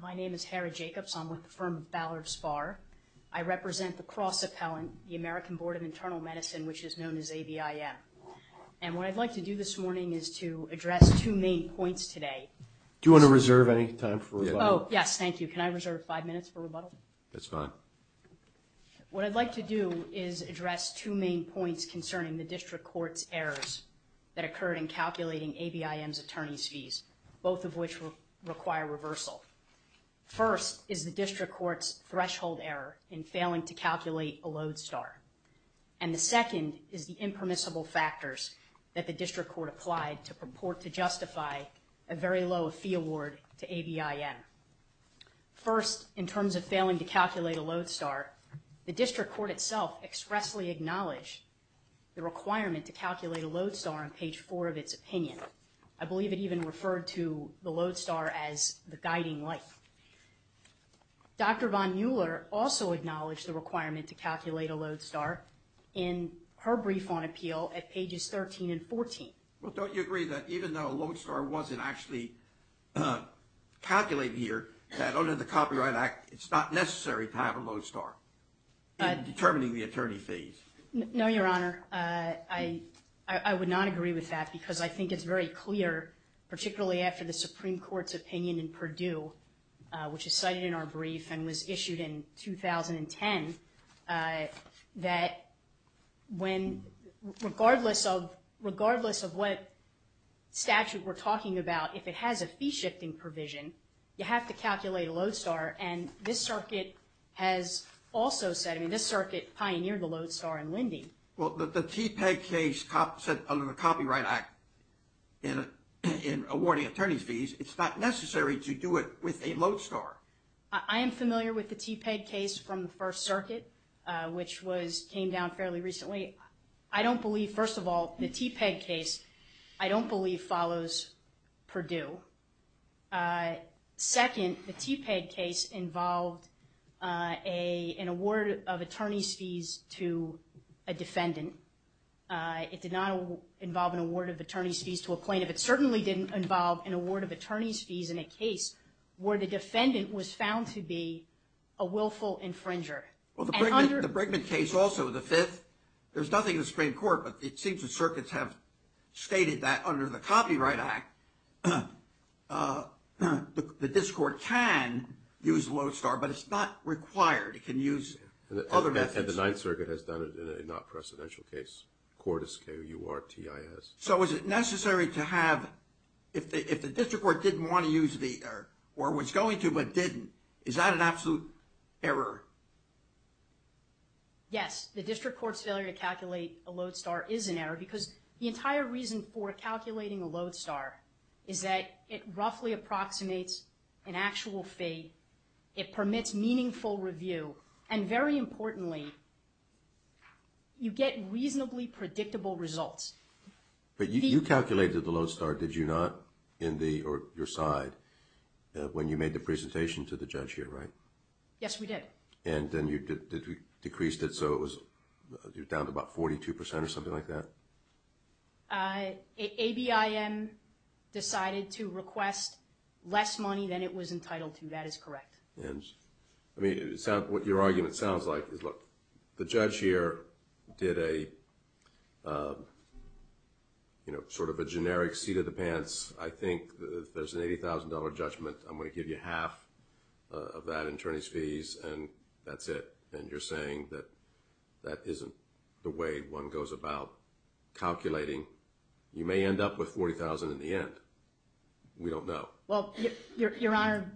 My name is Hara Jacobs. I'm with the firm Ballard Spahr. I represent the cross-appellant, the American Board of Internal Medicine, which is known as ABIM. And what I'd like to do this morning is to address two main points today. Do you want to reserve any time for rebuttal? Oh, yes, thank you. Can I reserve five minutes for rebuttal? That's fine. What I'd like to do is address two main points concerning the district court's errors that occurred in calculating ABIM's attorney's fees, both of which require reversal. First is the district court's threshold error in failing to calculate a Lodestar. And the second is the impermissible factors that the district court applied to purport to justify a very low fee award to ABIM. First, in terms of failing to calculate a Lodestar, the district court itself expressly acknowledged the requirement to calculate a Lodestar on page 4 of its opinion. I believe it even referred to the Lodestar as the guiding light. Dr. Von Mueller also acknowledged the requirement to calculate a Lodestar in her brief on appeal at pages 13 and 14. Well, don't you agree that even though a Lodestar wasn't actually calculated here, that under the Copyright Act, it's not necessary to have a Lodestar in determining the attorney fees? No, Your Honor. I would not agree with that because I think it's very clear, particularly after the Supreme Court's opinion in Purdue, which is cited in our brief and was issued in 2010, that regardless of what statute we're talking about, if it has a fee-shifting provision, you have to calculate a Lodestar. And this circuit has also said, I mean, this circuit pioneered the Lodestar in lending. Well, the TPEG case said under the Copyright Act in awarding attorney fees, it's not necessary to do it with a Lodestar. I am familiar with the TPEG case from the First Circuit, which came down fairly recently. I don't believe, first of all, the TPEG case, I don't believe, follows Purdue. Second, the TPEG case involved an award of attorney's fees to a defendant. It did not involve an award of attorney's fees to a plaintiff. It certainly didn't involve an award of attorney's fees in a case where the defendant was found to be a willful infringer. Well, the Brinkman case also, the fifth, there's nothing in the Supreme Court, but it seems the circuits have stated that under the Copyright Act, the district court can use Lodestar, but it's not required, it can use other methods. And the Ninth Circuit has done it in a non-presidential case, Cordes, K-U-R-T-I-S. So is it necessary to have, if the district court didn't want to use the, or was going to but didn't, is that an absolute error? Yes, the district court's failure to calculate a Lodestar is an error because the entire reason for calculating a Lodestar is that it roughly approximates an actual fee, it permits meaningful review, and very importantly, you get reasonably predictable results. But you calculated the Lodestar, did you not, in the, or your side, when you made the presentation to the judge here, right? Yes, we did. And then you decreased it so it was down to about 42 percent or something like that? A-B-I-M decided to request less money than it was entitled to, that is correct. I mean, what your argument sounds like is, look, the judge here did a, you know, sort of a generic seat-of-the-pants, I think there's an $80,000 judgment, I'm going to give you half of that in attorney's fees, and that's it. And you're saying that that isn't the way one goes about calculating. You may end up with $40,000 in the end. We don't know. Well, Your Honor,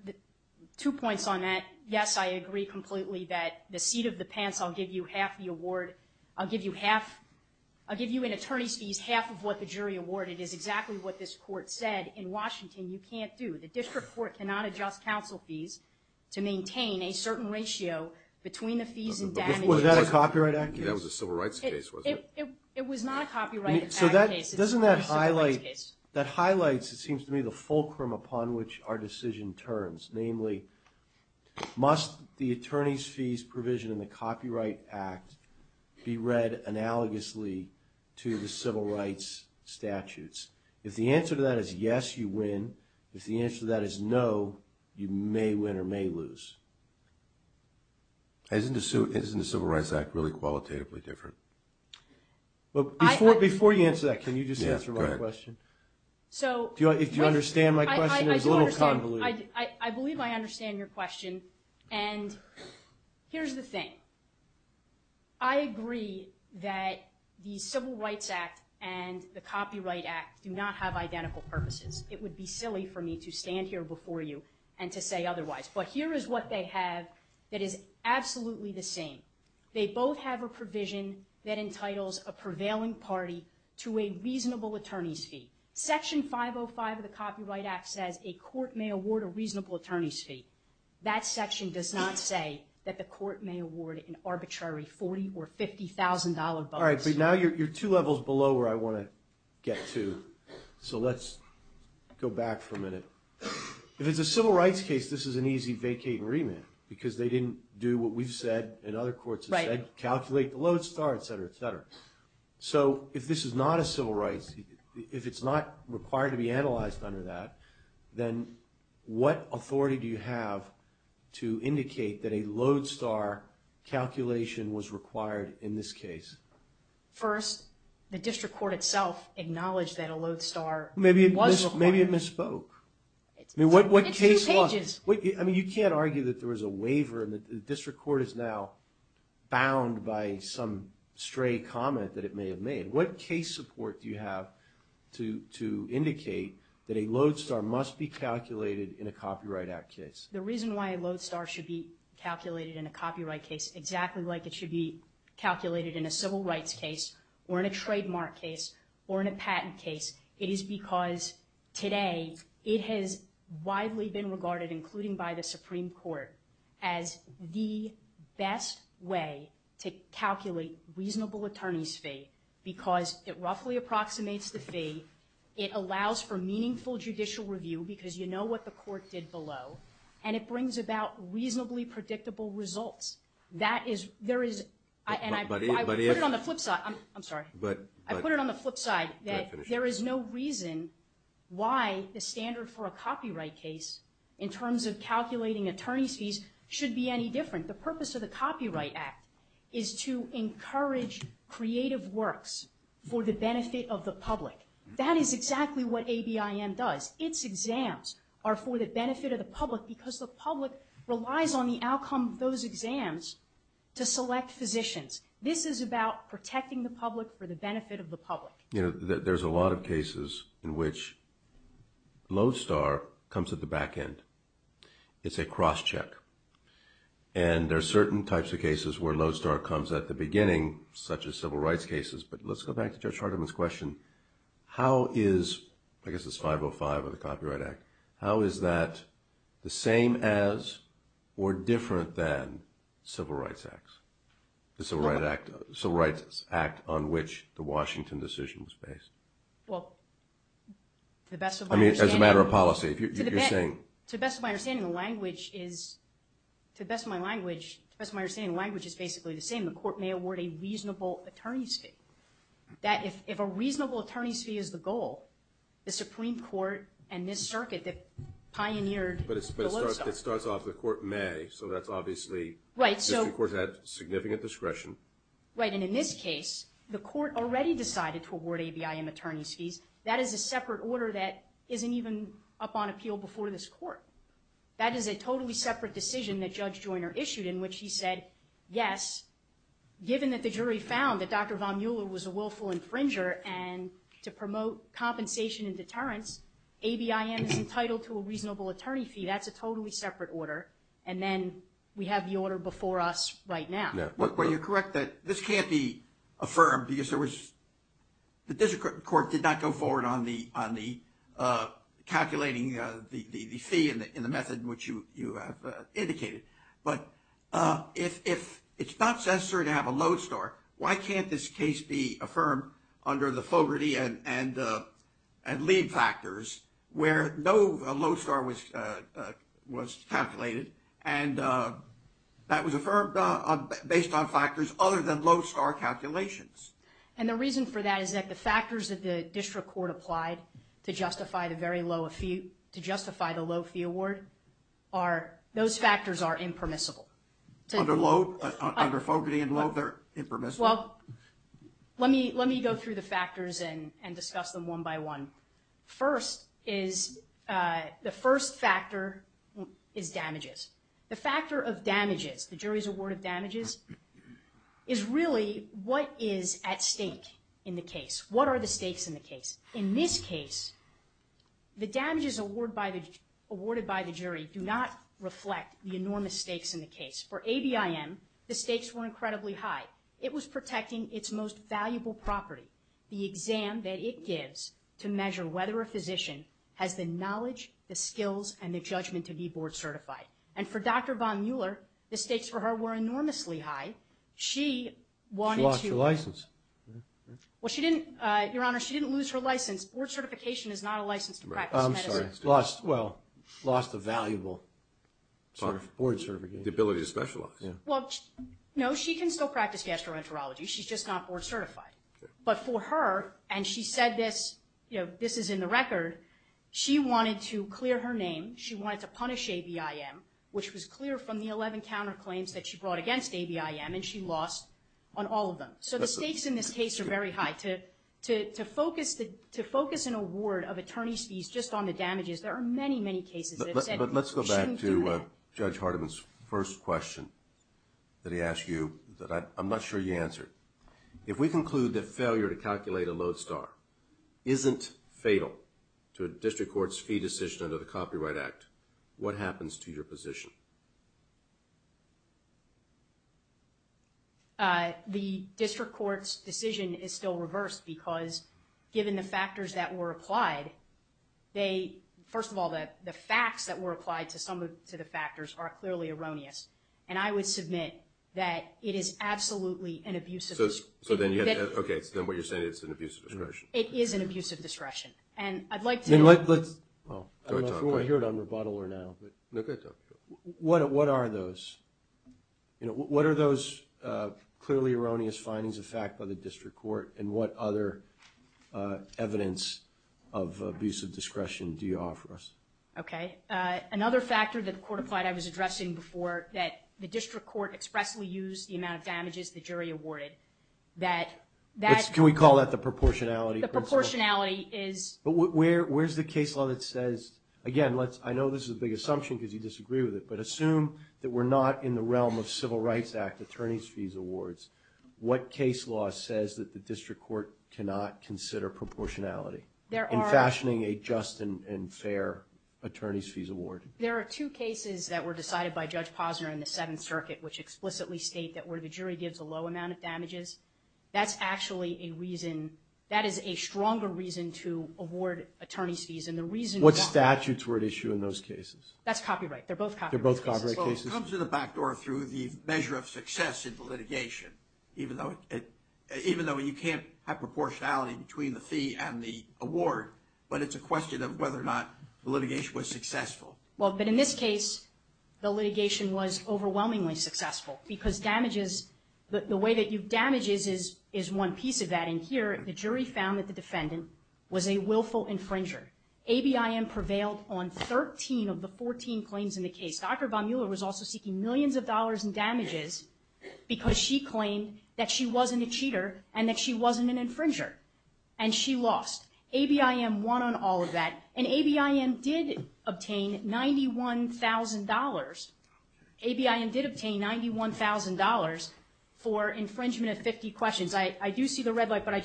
two points on that. Yes, I agree completely that the seat-of-the-pants, I'll give you half the award, I'll give you half, I'll give you in attorney's fees half of what the jury awarded is exactly what this court said. In Washington, you can't do, the district court cannot adjust counsel fees to maintain a certain ratio between the fees and damages. Was that a copyright act? That was a civil rights case, wasn't it? It was not a copyright act case. Doesn't that highlight, that highlights, it seems to me, the fulcrum upon which our decision turns, namely, must the attorney's fees provision in the Copyright Act be read analogously to the civil rights statutes? If the answer to that is yes, you win. If the answer to that is no, you may win or may lose. Isn't the Civil Rights Act really qualitatively different? Before you answer that, can you just answer my question? Do you understand my question? It was a little convoluted. I believe I understand your question, and here's the thing. I agree that the Civil Rights Act and the Copyright Act do not have identical purposes. It would be silly for me to stand here before you and to say otherwise. But here is what they have that is absolutely the same. They both have a provision that entitles a prevailing party to a reasonable attorney's fee. Section 505 of the Copyright Act says a court may award a reasonable attorney's fee. That section does not say that the court may award an arbitrary $40,000 or $50,000 bonus. All right, but now you're two levels below where I want to get to, so let's go back for a minute. If it's a civil rights case, this is an easy vacate and remand because they didn't do what we've said and other courts have said, calculate the lodestar, et cetera, et cetera. So if this is not a civil rights, if it's not required to be analyzed under that, then what authority do you have to indicate that a lodestar calculation was required in this case? First, the district court itself acknowledged that a lodestar was required. Maybe it misspoke. It's two pages. You can't argue that there was a waiver and the district court is now bound by some stray comment that it may have made. What case support do you have to indicate that a lodestar must be calculated in a Copyright Act case? The reason why a lodestar should be calculated in a copyright case exactly like it should be calculated in a civil rights case or in a trademark case or in a patent case, it is because today it has widely been regarded, including by the Supreme Court, as the best way to calculate reasonable attorney's fee because it roughly approximates the fee, it allows for meaningful judicial review because you know what the court did below, and it brings about reasonably predictable results. I put it on the flip side. I'm sorry. I put it on the flip side that there is no reason why the standard for a copyright case in terms of calculating attorney's fees should be any different. The purpose of the Copyright Act is to encourage creative works for the benefit of the public. That is exactly what ABIM does. Its exams are for the benefit of the public because the public relies on the outcome of those exams to select physicians. This is about protecting the public for the benefit of the public. There's a lot of cases in which lodestar comes at the back end. It's a cross-check. And there are certain types of cases where lodestar comes at the beginning, such as civil rights cases. But let's go back to Judge Hardiman's question. How is, I guess it's 505 of the Copyright Act, how is that the same as or different than civil rights acts, the Civil Rights Act on which the Washington decision was based? Well, to the best of my understanding... I mean, as a matter of policy. To the best of my understanding, the language is basically the same. The court may award a reasonable attorney's fee. If a reasonable attorney's fee is the goal, the Supreme Court and this circuit that pioneered the lodestar... But it starts off, the court may, so that's obviously... Right, so... District courts have significant discretion. Right, and in this case, the court already decided to award ABIM attorney's fees. That is a separate order that isn't even up on appeal before this court. That is a totally separate decision that Judge Joyner issued in which he said, yes, given that the jury found that Dr. Von Mueller was a willful infringer and to promote compensation and deterrence, ABIM is entitled to a reasonable attorney fee. That's a totally separate order. And then we have the order before us right now. Well, you're correct that this can't be affirmed because there was... The district court did not go forward on the calculating the fee in the method in which you have indicated. But if it's not necessary to have a lodestar, why can't this case be affirmed under the Fogarty and Leib factors where no lodestar was calculated and that was affirmed based on factors other than lodestar calculations? And the reason for that is that the factors that the district court applied to justify the low fee award, those factors are impermissible. Under Fogarty and Leib, they're impermissible? Well, let me go through the factors and discuss them one by one. First is the first factor is damages. The factor of damages, the jury's award of damages, is really what is at stake in the case. What are the stakes in the case? In this case, the damages awarded by the jury do not reflect the enormous stakes in the case. For ABIM, the stakes were incredibly high. It was protecting its most valuable property, the exam that it gives to measure whether a physician has the knowledge, the skills, and the judgment to be board certified. And for Dr. Von Mueller, the stakes for her were enormously high. She wanted to... She lost her license. Your Honor, she didn't lose her license. Board certification is not a license to practice medicine. Well, lost a valuable board certification. The ability to specialize. No, she can still practice gastroenterology. She's just not board certified. But for her, and she said this is in the record, she wanted to clear her name. She wanted to punish ABIM, which was clear from the 11 counterclaims that she brought against ABIM, and she lost on all of them. So the stakes in this case are very high. To focus an award of attorney's fees just on the damages, there are many, many cases that have said you shouldn't do that. But let's go back to Judge Hardiman's first question that he asked you that I'm not sure you answered. If we conclude that failure to calculate a lodestar isn't fatal to a district court's fee decision under the Copyright Act, what happens to your position? The district court's decision is still reversed because given the factors that were applied, first of all, the facts that were applied to some of the factors are clearly erroneous. And I would submit that it is absolutely an abuse of discretion. Okay, so then what you're saying is it's an abuse of discretion. It is an abuse of discretion. And I'd like to know... Well, I don't know if we want to hear it on rebuttal or not. What are those? What are those clearly erroneous findings of fact by the district court and what other evidence of abuse of discretion do you offer us? Okay. Another factor that the court applied I was addressing before, that the district court expressly used the amount of damages the jury awarded. Can we call that the proportionality principle? The proportionality is... But where's the case law that says, again, I know this is a big assumption because you disagree with it, but assume that we're not in the realm of Civil Rights Act attorney's fees awards, what case law says that the district court cannot consider proportionality in fashioning a just and fair attorney's fees award? There are two cases that were decided by Judge Posner in the Seventh Circuit which explicitly state that where the jury gives a low amount of damages, that's actually a reason, that is a stronger reason to award attorney's fees. What statutes were at issue in those cases? That's copyright. They're both copyright cases. They're both copyright cases. Well, it comes to the back door through the measure of success in the litigation, even though you can't have proportionality between the fee and the award, but it's a question of whether or not the litigation was successful. Well, but in this case, the litigation was overwhelmingly successful because damages, the way that you damage is one piece of that. And here, the jury found that the defendant was a willful infringer. ABIM prevailed on 13 of the 14 claims in the case. Dr. Von Mueller was also seeking millions of dollars in damages because she claimed that she wasn't a cheater and that she wasn't an infringer, and she lost. ABIM won on all of that, and ABIM did obtain $91,000. ABIM did obtain $91,000 for infringement of 50 questions. I do see the red light, but I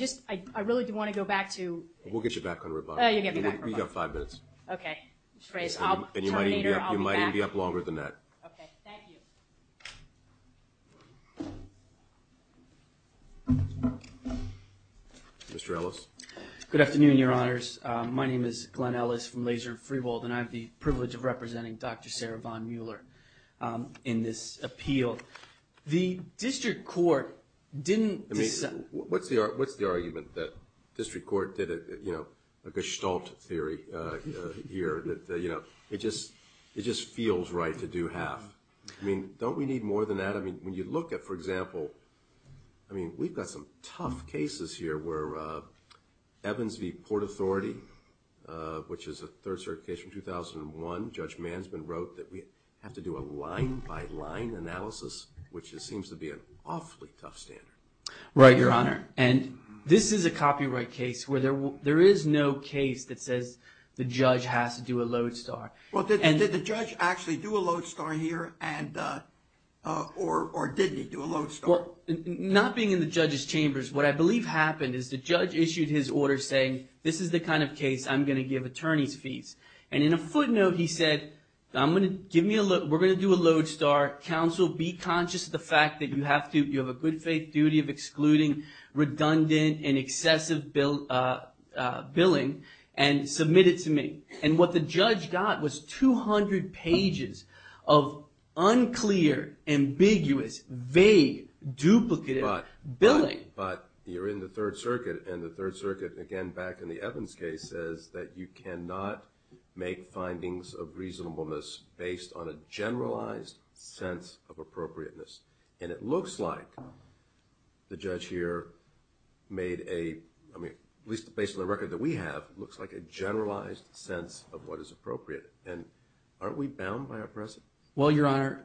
really do want to go back to you. We'll get you back on rebuttal. Oh, you'll get me back on rebuttal. You've got five minutes. I'll terminate or I'll be back. And you might even be up longer than that. Okay. Thank you. Mr. Ellis. Good afternoon, Your Honors. My name is Glenn Ellis from Laser Freehold, and I have the privilege of representing Dr. Sarah Von Mueller in this appeal. The district court didn't decide. What's the argument that district court did a gestalt theory here? It just feels right to do half. Don't we need more than that? When you look at, for example, we've got some tough cases here where Evans v. Port Authority, which is a third-circuit case from 2001, Judge Mansman wrote that we have to do a line-by-line analysis, which just seems to be an awfully tough standard. Right, Your Honor. And this is a copyright case where there is no case that says the judge has to do a lodestar. Well, did the judge actually do a lodestar here, or did he do a lodestar? Well, not being in the judge's chambers, what I believe happened is the judge issued his order saying, this is the kind of case I'm going to give attorneys fees. And in a footnote he said, we're going to do a lodestar. Counsel, be conscious of the fact that you have a good faith duty of excluding redundant and excessive billing and submit it to me. And what the judge got was 200 pages of unclear, ambiguous, vague, duplicative billing. But you're in the third circuit, and the third circuit, again, back in the Evans case, says that you cannot make findings of reasonableness based on a generalized sense of appropriateness. And it looks like the judge here made a, at least based on the record that we have, looks like a generalized sense of what is appropriate. And aren't we bound by our precedent? Well, Your Honor,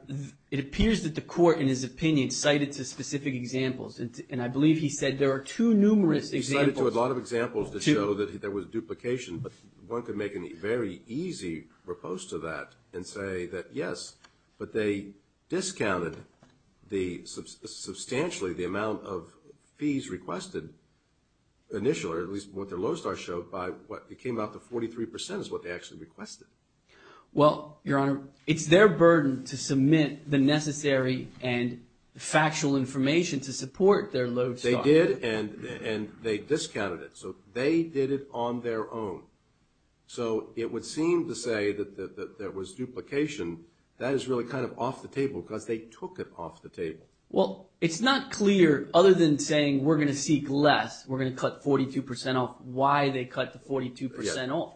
it appears that the court, in his opinion, cited specific examples. And I believe he said there are two numerous examples. He cited a lot of examples that show that there was duplication, but one could make a very easy repose to that and say that, yes, but they discounted substantially the amount of fees requested initially, or at least what their lodestar showed by what came out to 43% is what they actually requested. Well, Your Honor, it's their burden to submit the necessary and factual information to support their lodestar. They did, and they discounted it. So they did it on their own. So it would seem to say that there was duplication. That is really kind of off the table because they took it off the table. Well, it's not clear, other than saying we're going to seek less, we're going to cut 42% off, why they cut the 42% off.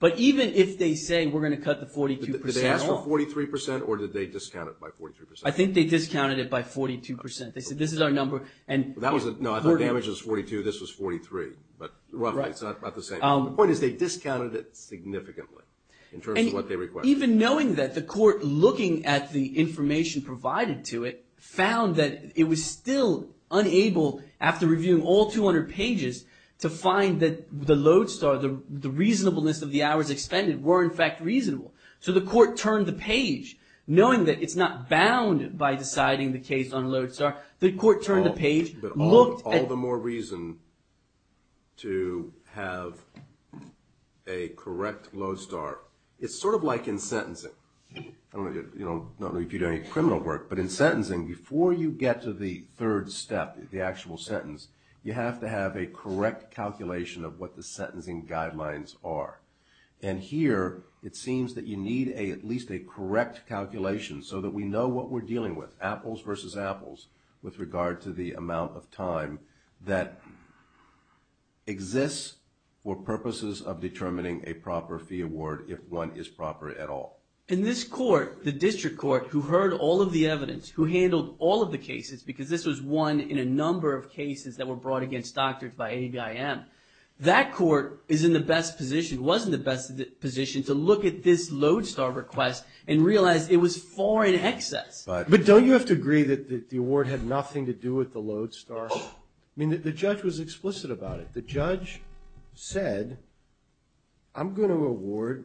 But even if they say we're going to cut the 42% off. Did they ask for 43% or did they discount it by 43%? I think they discounted it by 42%. They said this is our number. No, I thought the average was 42. This was 43, but roughly it's about the same. The point is they discounted it significantly in terms of what they requested. Even knowing that, the court, looking at the information provided to it, found that it was still unable, after reviewing all 200 pages, to find that the lodestar, the reasonableness of the hours expended, were in fact reasonable. So the court turned the page. Knowing that it's not bound by deciding the case on lodestar, the court turned the page. All the more reason to have a correct lodestar. It's sort of like in sentencing. I don't know if you do any criminal work, but in sentencing, before you get to the third step, the actual sentence, you have to have a correct calculation of what the sentencing guidelines are. Here, it seems that you need at least a correct calculation so that we know what we're dealing with, apples versus apples, with regard to the amount of time that exists for purposes of determining a proper fee award, if one is proper at all. In this court, the district court, who heard all of the evidence, who handled all of the cases, because this was one in a number of cases that were brought against doctors by ABIM, that court is in the best position, was in the best position, to look at this lodestar request and realize it was far in excess. But don't you have to agree that the award had nothing to do with the lodestar? I mean, the judge was explicit about it. The judge said, I'm going to award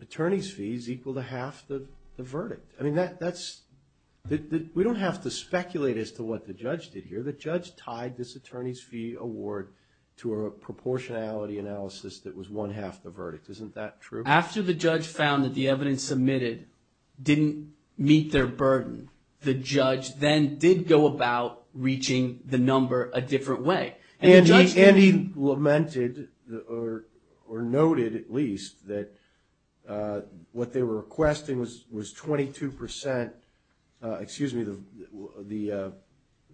attorney's fees equal to half the verdict. I mean, we don't have to speculate as to what the judge did here. The judge tied this attorney's fee award to a proportionality analysis that was one half the verdict. Isn't that true? After the judge found that the evidence submitted didn't meet their burden, the judge then did go about reaching the number a different way. And he lamented, or noted at least, that what they were requesting was 22% excuse me, the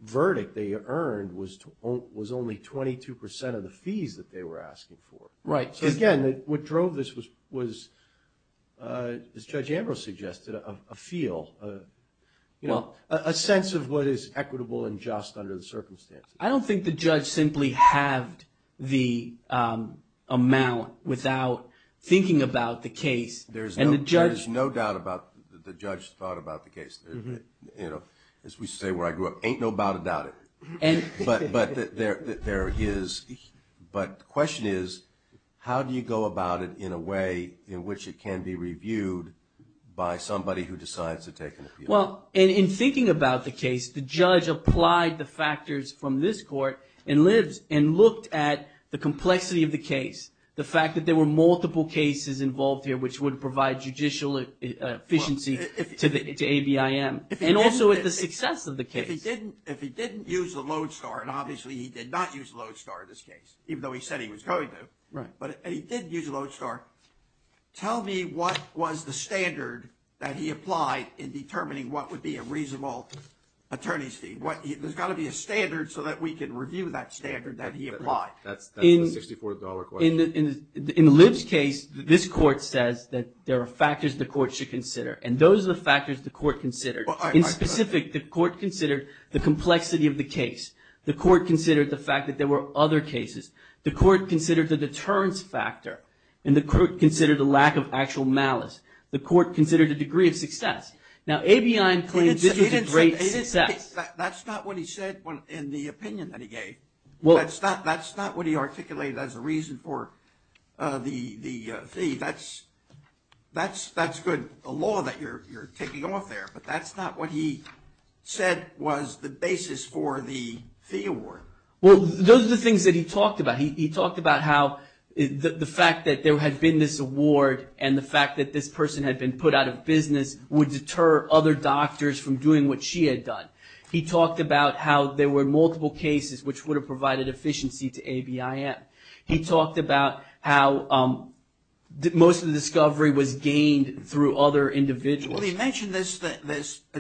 verdict they earned was only 22% of the fees that they were asking for. Right. So again, what drove this was, as Judge Ambrose suggested, a feel, a sense of what is equitable and just under the circumstances. I don't think the judge simply halved the amount without thinking about the case. There is no doubt about the judge thought about the case. As we say where I grew up, ain't no doubt about it. But the question is, how do you go about it in a way in which it can be reviewed by somebody who decides to take an appeal? Well, in thinking about the case, the judge applied the factors from this court and looked at the complexity of the case. The fact that there were multiple cases involved here which would provide judicial efficiency to ABIM. And also at the success of the case. If he didn't use a lodestar, and obviously he did not use a lodestar in this case, even though he said he was going to. But he did use a lodestar. Tell me what was the standard that he applied in determining what would be a reasonable attorney's fee. There's got to be a standard so that we can review that standard that he applied. That's a $64 question. In Lib's case, this court says that there are factors the court should consider. And those are the factors the court considered. In specific, the court considered the complexity of the case. The court considered the fact that there were other cases. The court considered the deterrence factor. And the court considered the lack of actual malice. The court considered the degree of success. Now, ABIM claims this was a great success. That's not what he said in the opinion that he gave. That's not what he articulated as a reason for the fee. That's good. A law that you're taking off there. But that's not what he said was the basis for the fee award. Well, those are the things that he talked about. He talked about how the fact that there had been this award and the fact that this person had been put out of business would deter other doctors from doing what she had done. He talked about how there were multiple cases which would have provided efficiency to ABIM. He talked about how most of the discovery was gained through other individuals. Well, he mentioned this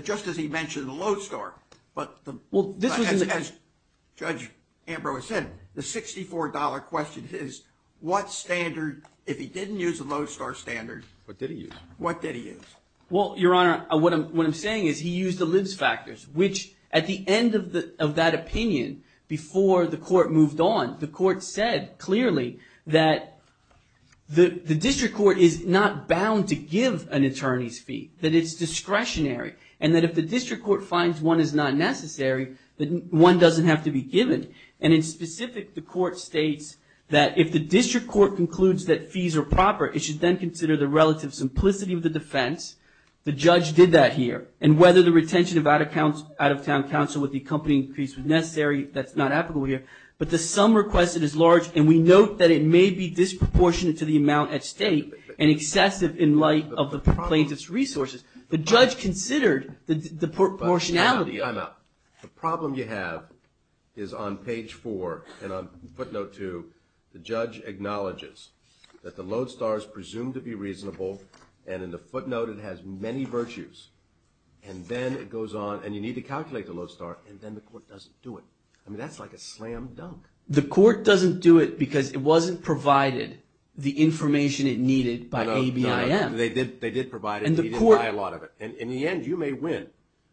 just as he mentioned the Lodestar. As Judge Ambrose said, the $64 question is what standard, if he didn't use the Lodestar standard, what did he use? Well, Your Honor, what I'm saying is he used the Lib's factors. Which at the end of that opinion, before the court moved on, the court said clearly that the district court is not bound to give an attorney's fee, that it's discretionary. And that if the district court finds one is not necessary, then one doesn't have to be given. And in specific, the court states that if the district court concludes that fees are proper, it should then consider the relative simplicity of the defense. The judge did that here. And whether the retention of out-of-town counsel with the accompanying increase was necessary, that's not applicable here. But the sum requested is large, and we note that it may be disproportionate to the amount at state and excessive in light of the plaintiff's resources. The judge considered the proportionality. I'm out. The problem you have is on page 4, and on footnote 2, the judge acknowledges that the Lodestar is presumed to be reasonable, and in the footnote, it has many virtues. And then it goes on, and you need to calculate the Lodestar, and then the court doesn't do it. I mean, that's like a slam dunk. The court doesn't do it because it wasn't provided the information it needed by ABIM. No, no. They did provide it, but they didn't buy a lot of it. And in the end, you may win.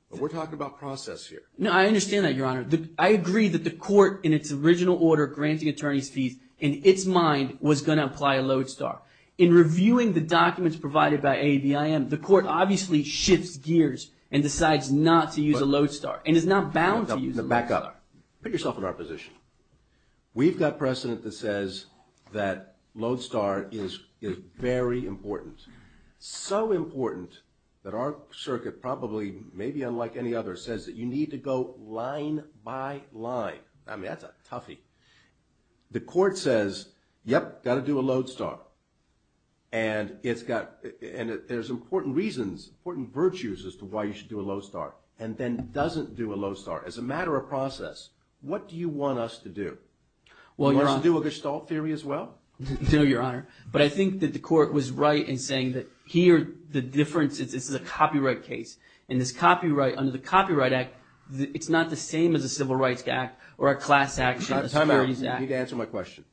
But we're talking about process here. No, I understand that, Your Honor. I agree that the court, in its original order, granting attorney's fees in its mind was going to apply a Lodestar. In reviewing the documents provided by ABIM, the court obviously shifts gears and decides not to use a Lodestar, and is not bound to use a Lodestar. Back up. Put yourself in our position. We've got precedent that says that Lodestar is very important, so important that our circuit probably, maybe unlike any other, says that you need to go line by line. I mean, that's a toughie. The court says, yep, got to do a Lodestar. And there's important reasons, important virtues as to why you should do a Lodestar, and then doesn't do a Lodestar. As a matter of process, what do you want us to do? Well, Your Honor. Do you want us to do a Gestalt theory as well? No, Your Honor. But I think that the court was right in saying that here the difference, this is a copyright case. And this copyright, under the Copyright Act, it's not the same as the Civil Rights Act or a class action. Time out. You need to answer my question.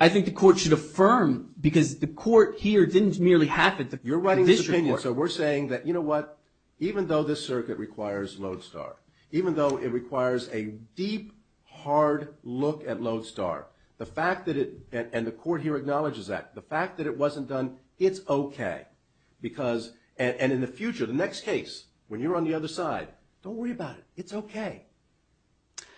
I think the court should affirm, because the court here didn't merely have it. You're writing this opinion, so we're saying that, you know what, even though this circuit requires Lodestar, even though it requires a deep, hard look at Lodestar, the fact that it, and the court here acknowledges that, the fact that it wasn't done, it's okay. Because, and in the future, the next case, when you're on the other side, don't worry about it. It's okay.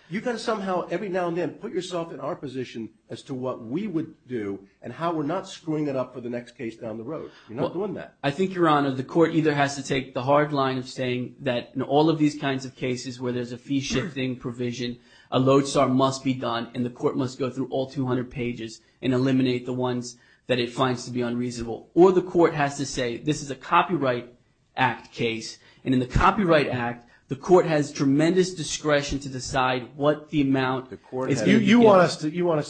You've got to somehow, every now and then, put yourself in our position as to what we would do and how we're not screwing it up for the next case down the road. You're not doing that. I think, Your Honor, the court either has to take the hard line of saying that in all of these kinds of cases where there's a fee-shifting provision, a Lodestar must be done, and the court must go through all 200 pages and eliminate the ones that it finds to be unreasonable. Or the court has to say, this is a Copyright Act case, and in the Copyright Act, the court has tremendous discretion to decide what the amount is due. You want us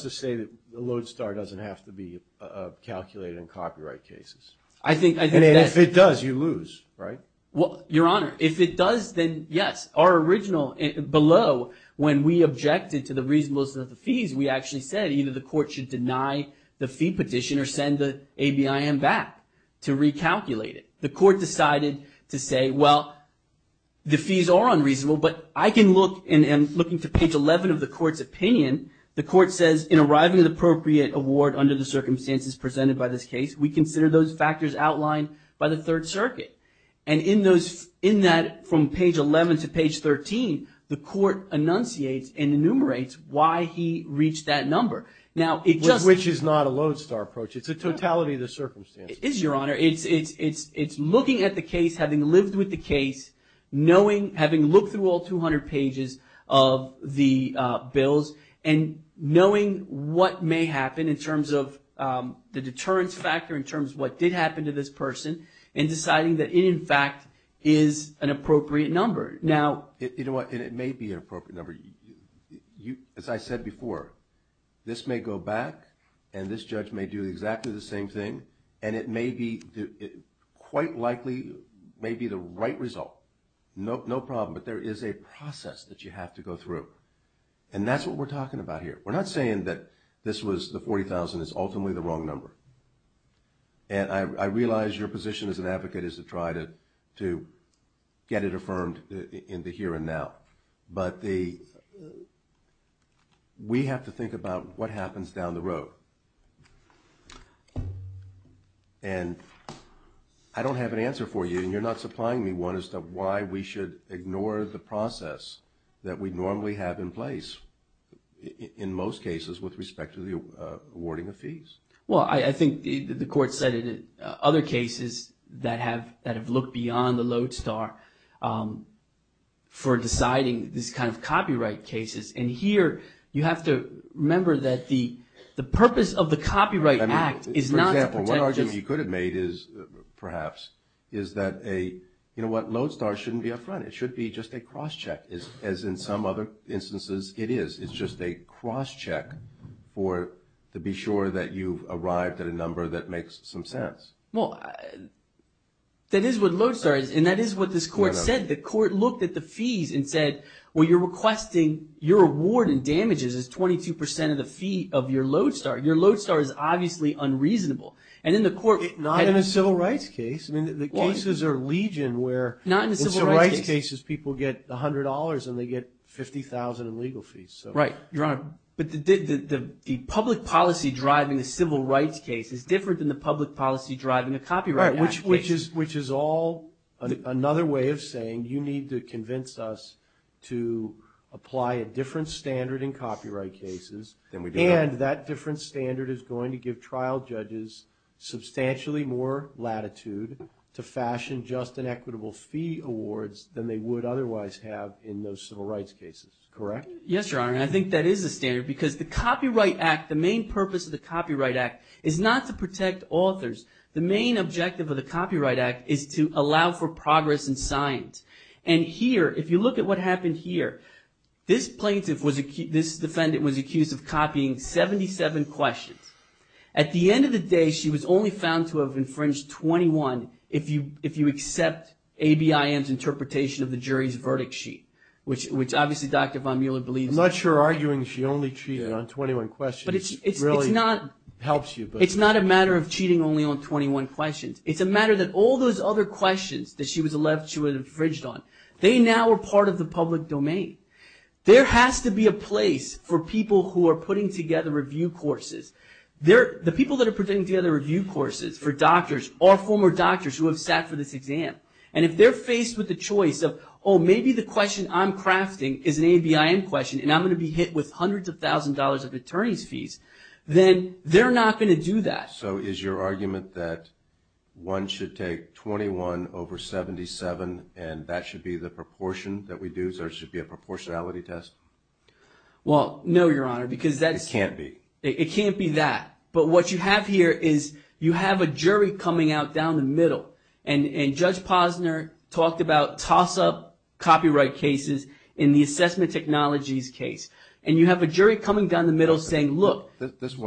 to say that the Lodestar doesn't have to be calculated in copyright cases. And if it does, you lose, right? Well, Your Honor, if it does, then yes. Our original, below, when we objected to the reasonableness of the fees, we actually said either the court should deny the fee petition or send the ABIM back to recalculate it. The court decided to say, well, the fees are unreasonable, but I can look, and looking to page 11 of the court's opinion, the court says, in arriving at the appropriate award under the circumstances presented by this case, we consider those factors outlined by the Third Circuit. And in that, from page 11 to page 13, the court enunciates and enumerates why he reached that number. Which is not a Lodestar approach. It's a totality of the circumstances. It is, Your Honor. It's looking at the case, having lived with the case, knowing, having looked through all 200 pages of the bills, and knowing what may happen in terms of the deterrence factor, in terms of what did happen to this person, and deciding that it, in fact, is an appropriate number. Now, you know what, it may be an appropriate number. As I said before, this may go back, and this judge may do exactly the same thing, and it may be, quite likely, may be the right result. No problem. But there is a process that you have to go through. And that's what we're talking about here. We're not saying that this was, the $40,000 is ultimately the wrong number. And I realize your position as an advocate is to try to get it affirmed in the here and now. But we have to think about what happens down the road. And I don't have an answer for you, and you're not supplying me one, as to why we should ignore the process that we normally have in place, in most cases, with respect to the awarding of fees. Well, I think the Court said in other cases that have looked beyond the Lodestar for deciding these kind of copyright cases. And here, you have to remember that the purpose of the Copyright Act is not to protect. For example, one argument you could have made is, perhaps, is that a, you know what, Lodestar shouldn't be up front. It should be just a cross-check, as in some other instances it is. It's just a cross-check for, to be sure that you've arrived at a number that makes some sense. Well, that is what Lodestar is, and that is what this Court said. The Court looked at the fees and said, well, you're requesting your award and damages as 22% of the fee of your Lodestar. Your Lodestar is obviously unreasonable. And in the Court – Not in a civil rights case. I mean, the cases are legion where – Not in a civil rights case. In civil rights cases, people get $100, and they get $50,000 in legal fees. Right. Your Honor, but the public policy driving a civil rights case is different than the public policy driving a copyright act case. Right, which is all another way of saying you need to convince us to apply a different standard in copyright cases. Then we do that. And that different standard is going to give trial judges substantially more latitude to fashion just and equitable fee awards than they would otherwise have in those civil rights cases. Correct? Yes, Your Honor, and I think that is a standard because the copyright act, the main purpose of the copyright act is not to protect authors. The main objective of the copyright act is to allow for progress in science. And here, if you look at what happened here, this plaintiff was – this defendant was accused of copying 77 questions. At the end of the day, she was only found to have infringed 21 if you accept ABIM's interpretation of the jury's verdict sheet, which obviously Dr. Von Muehler believes – I'm not sure arguing she only cheated on 21 questions really helps you. It's not a matter of cheating only on 21 questions. It's a matter that all those other questions that she was alleged to have infringed on, they now are part of the public domain. There has to be a place for people who are putting together review courses. The people that are putting together review courses for doctors are former doctors who have sat for this exam. And if they're faced with the choice of, oh, maybe the question I'm crafting is an ABIM question and I'm going to be hit with hundreds of thousands of dollars of attorney's fees, then they're not going to do that. So is your argument that one should take 21 over 77 and that should be the proportion that we do, so it should be a proportionality test? Well, no, Your Honor, because that's – It can't be. It can't be that. But what you have here is you have a jury coming out down the middle and Judge Posner talked about toss-up copyright cases in the assessment technologies case. And you have a jury coming down the middle saying, look,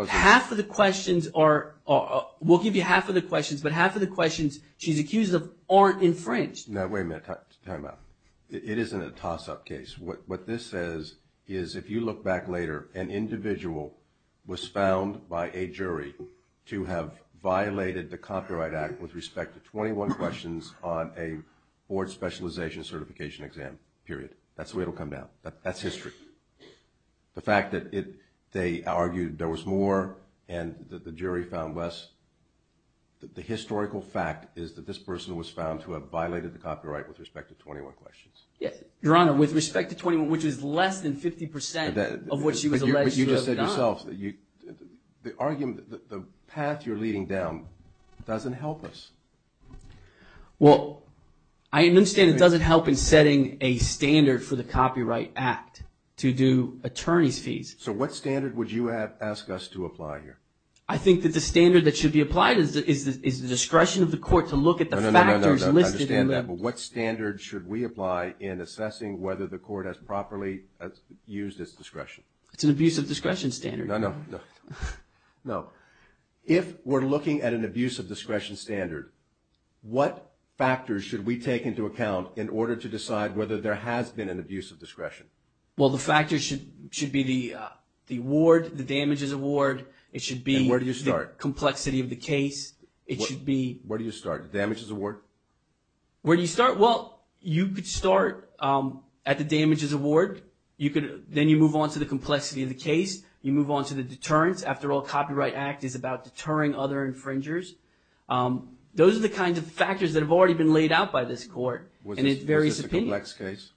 half of the questions are – we'll give you half of the questions, but half of the questions she's accused of aren't infringed. Now, wait a minute. Time out. It isn't a toss-up case. What this says is if you look back later, an individual was found by a jury to have violated the Copyright Act with respect to 21 questions on a board specialization certification exam, period. That's the way it will come down. That's history. The fact that they argued there was more and that the jury found less, the historical fact is that this person was found to have violated the copyright with respect to 21 questions. Your Honor, with respect to 21, which is less than 50 percent of what she was alleged to have done. But you just said yourself that the path you're leading down doesn't help us. Well, I understand it doesn't help in setting a standard for the Copyright Act to do attorney's fees. So what standard would you ask us to apply here? I think that the standard that should be applied is the discretion of the court to look at the factors listed. I understand that. But what standard should we apply in assessing whether the court has properly used its discretion? It's an abuse of discretion standard. No, no, no. If we're looking at an abuse of discretion standard, what factors should we take into account in order to decide whether there has been an abuse of discretion? Well, the factors should be the award, the damages award. It should be the complexity of the case. Where do you start? The damages award? Where do you start? Well, you could start at the damages award. Then you move on to the complexity of the case. You move on to the deterrence. After all, Copyright Act is about deterring other infringers. Those are the kinds of factors that have already been laid out by this court in its various subpoenas. Was this a complex case?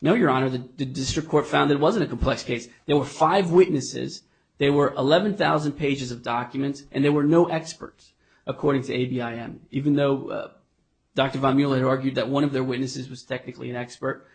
No, Your Honor. The district court found that it wasn't a complex case. There were five witnesses. There were 11,000 pages of documents. And there were no experts, according to ABIM, even though Dr. Von Muehle had argued that one of their witnesses was technically an expert.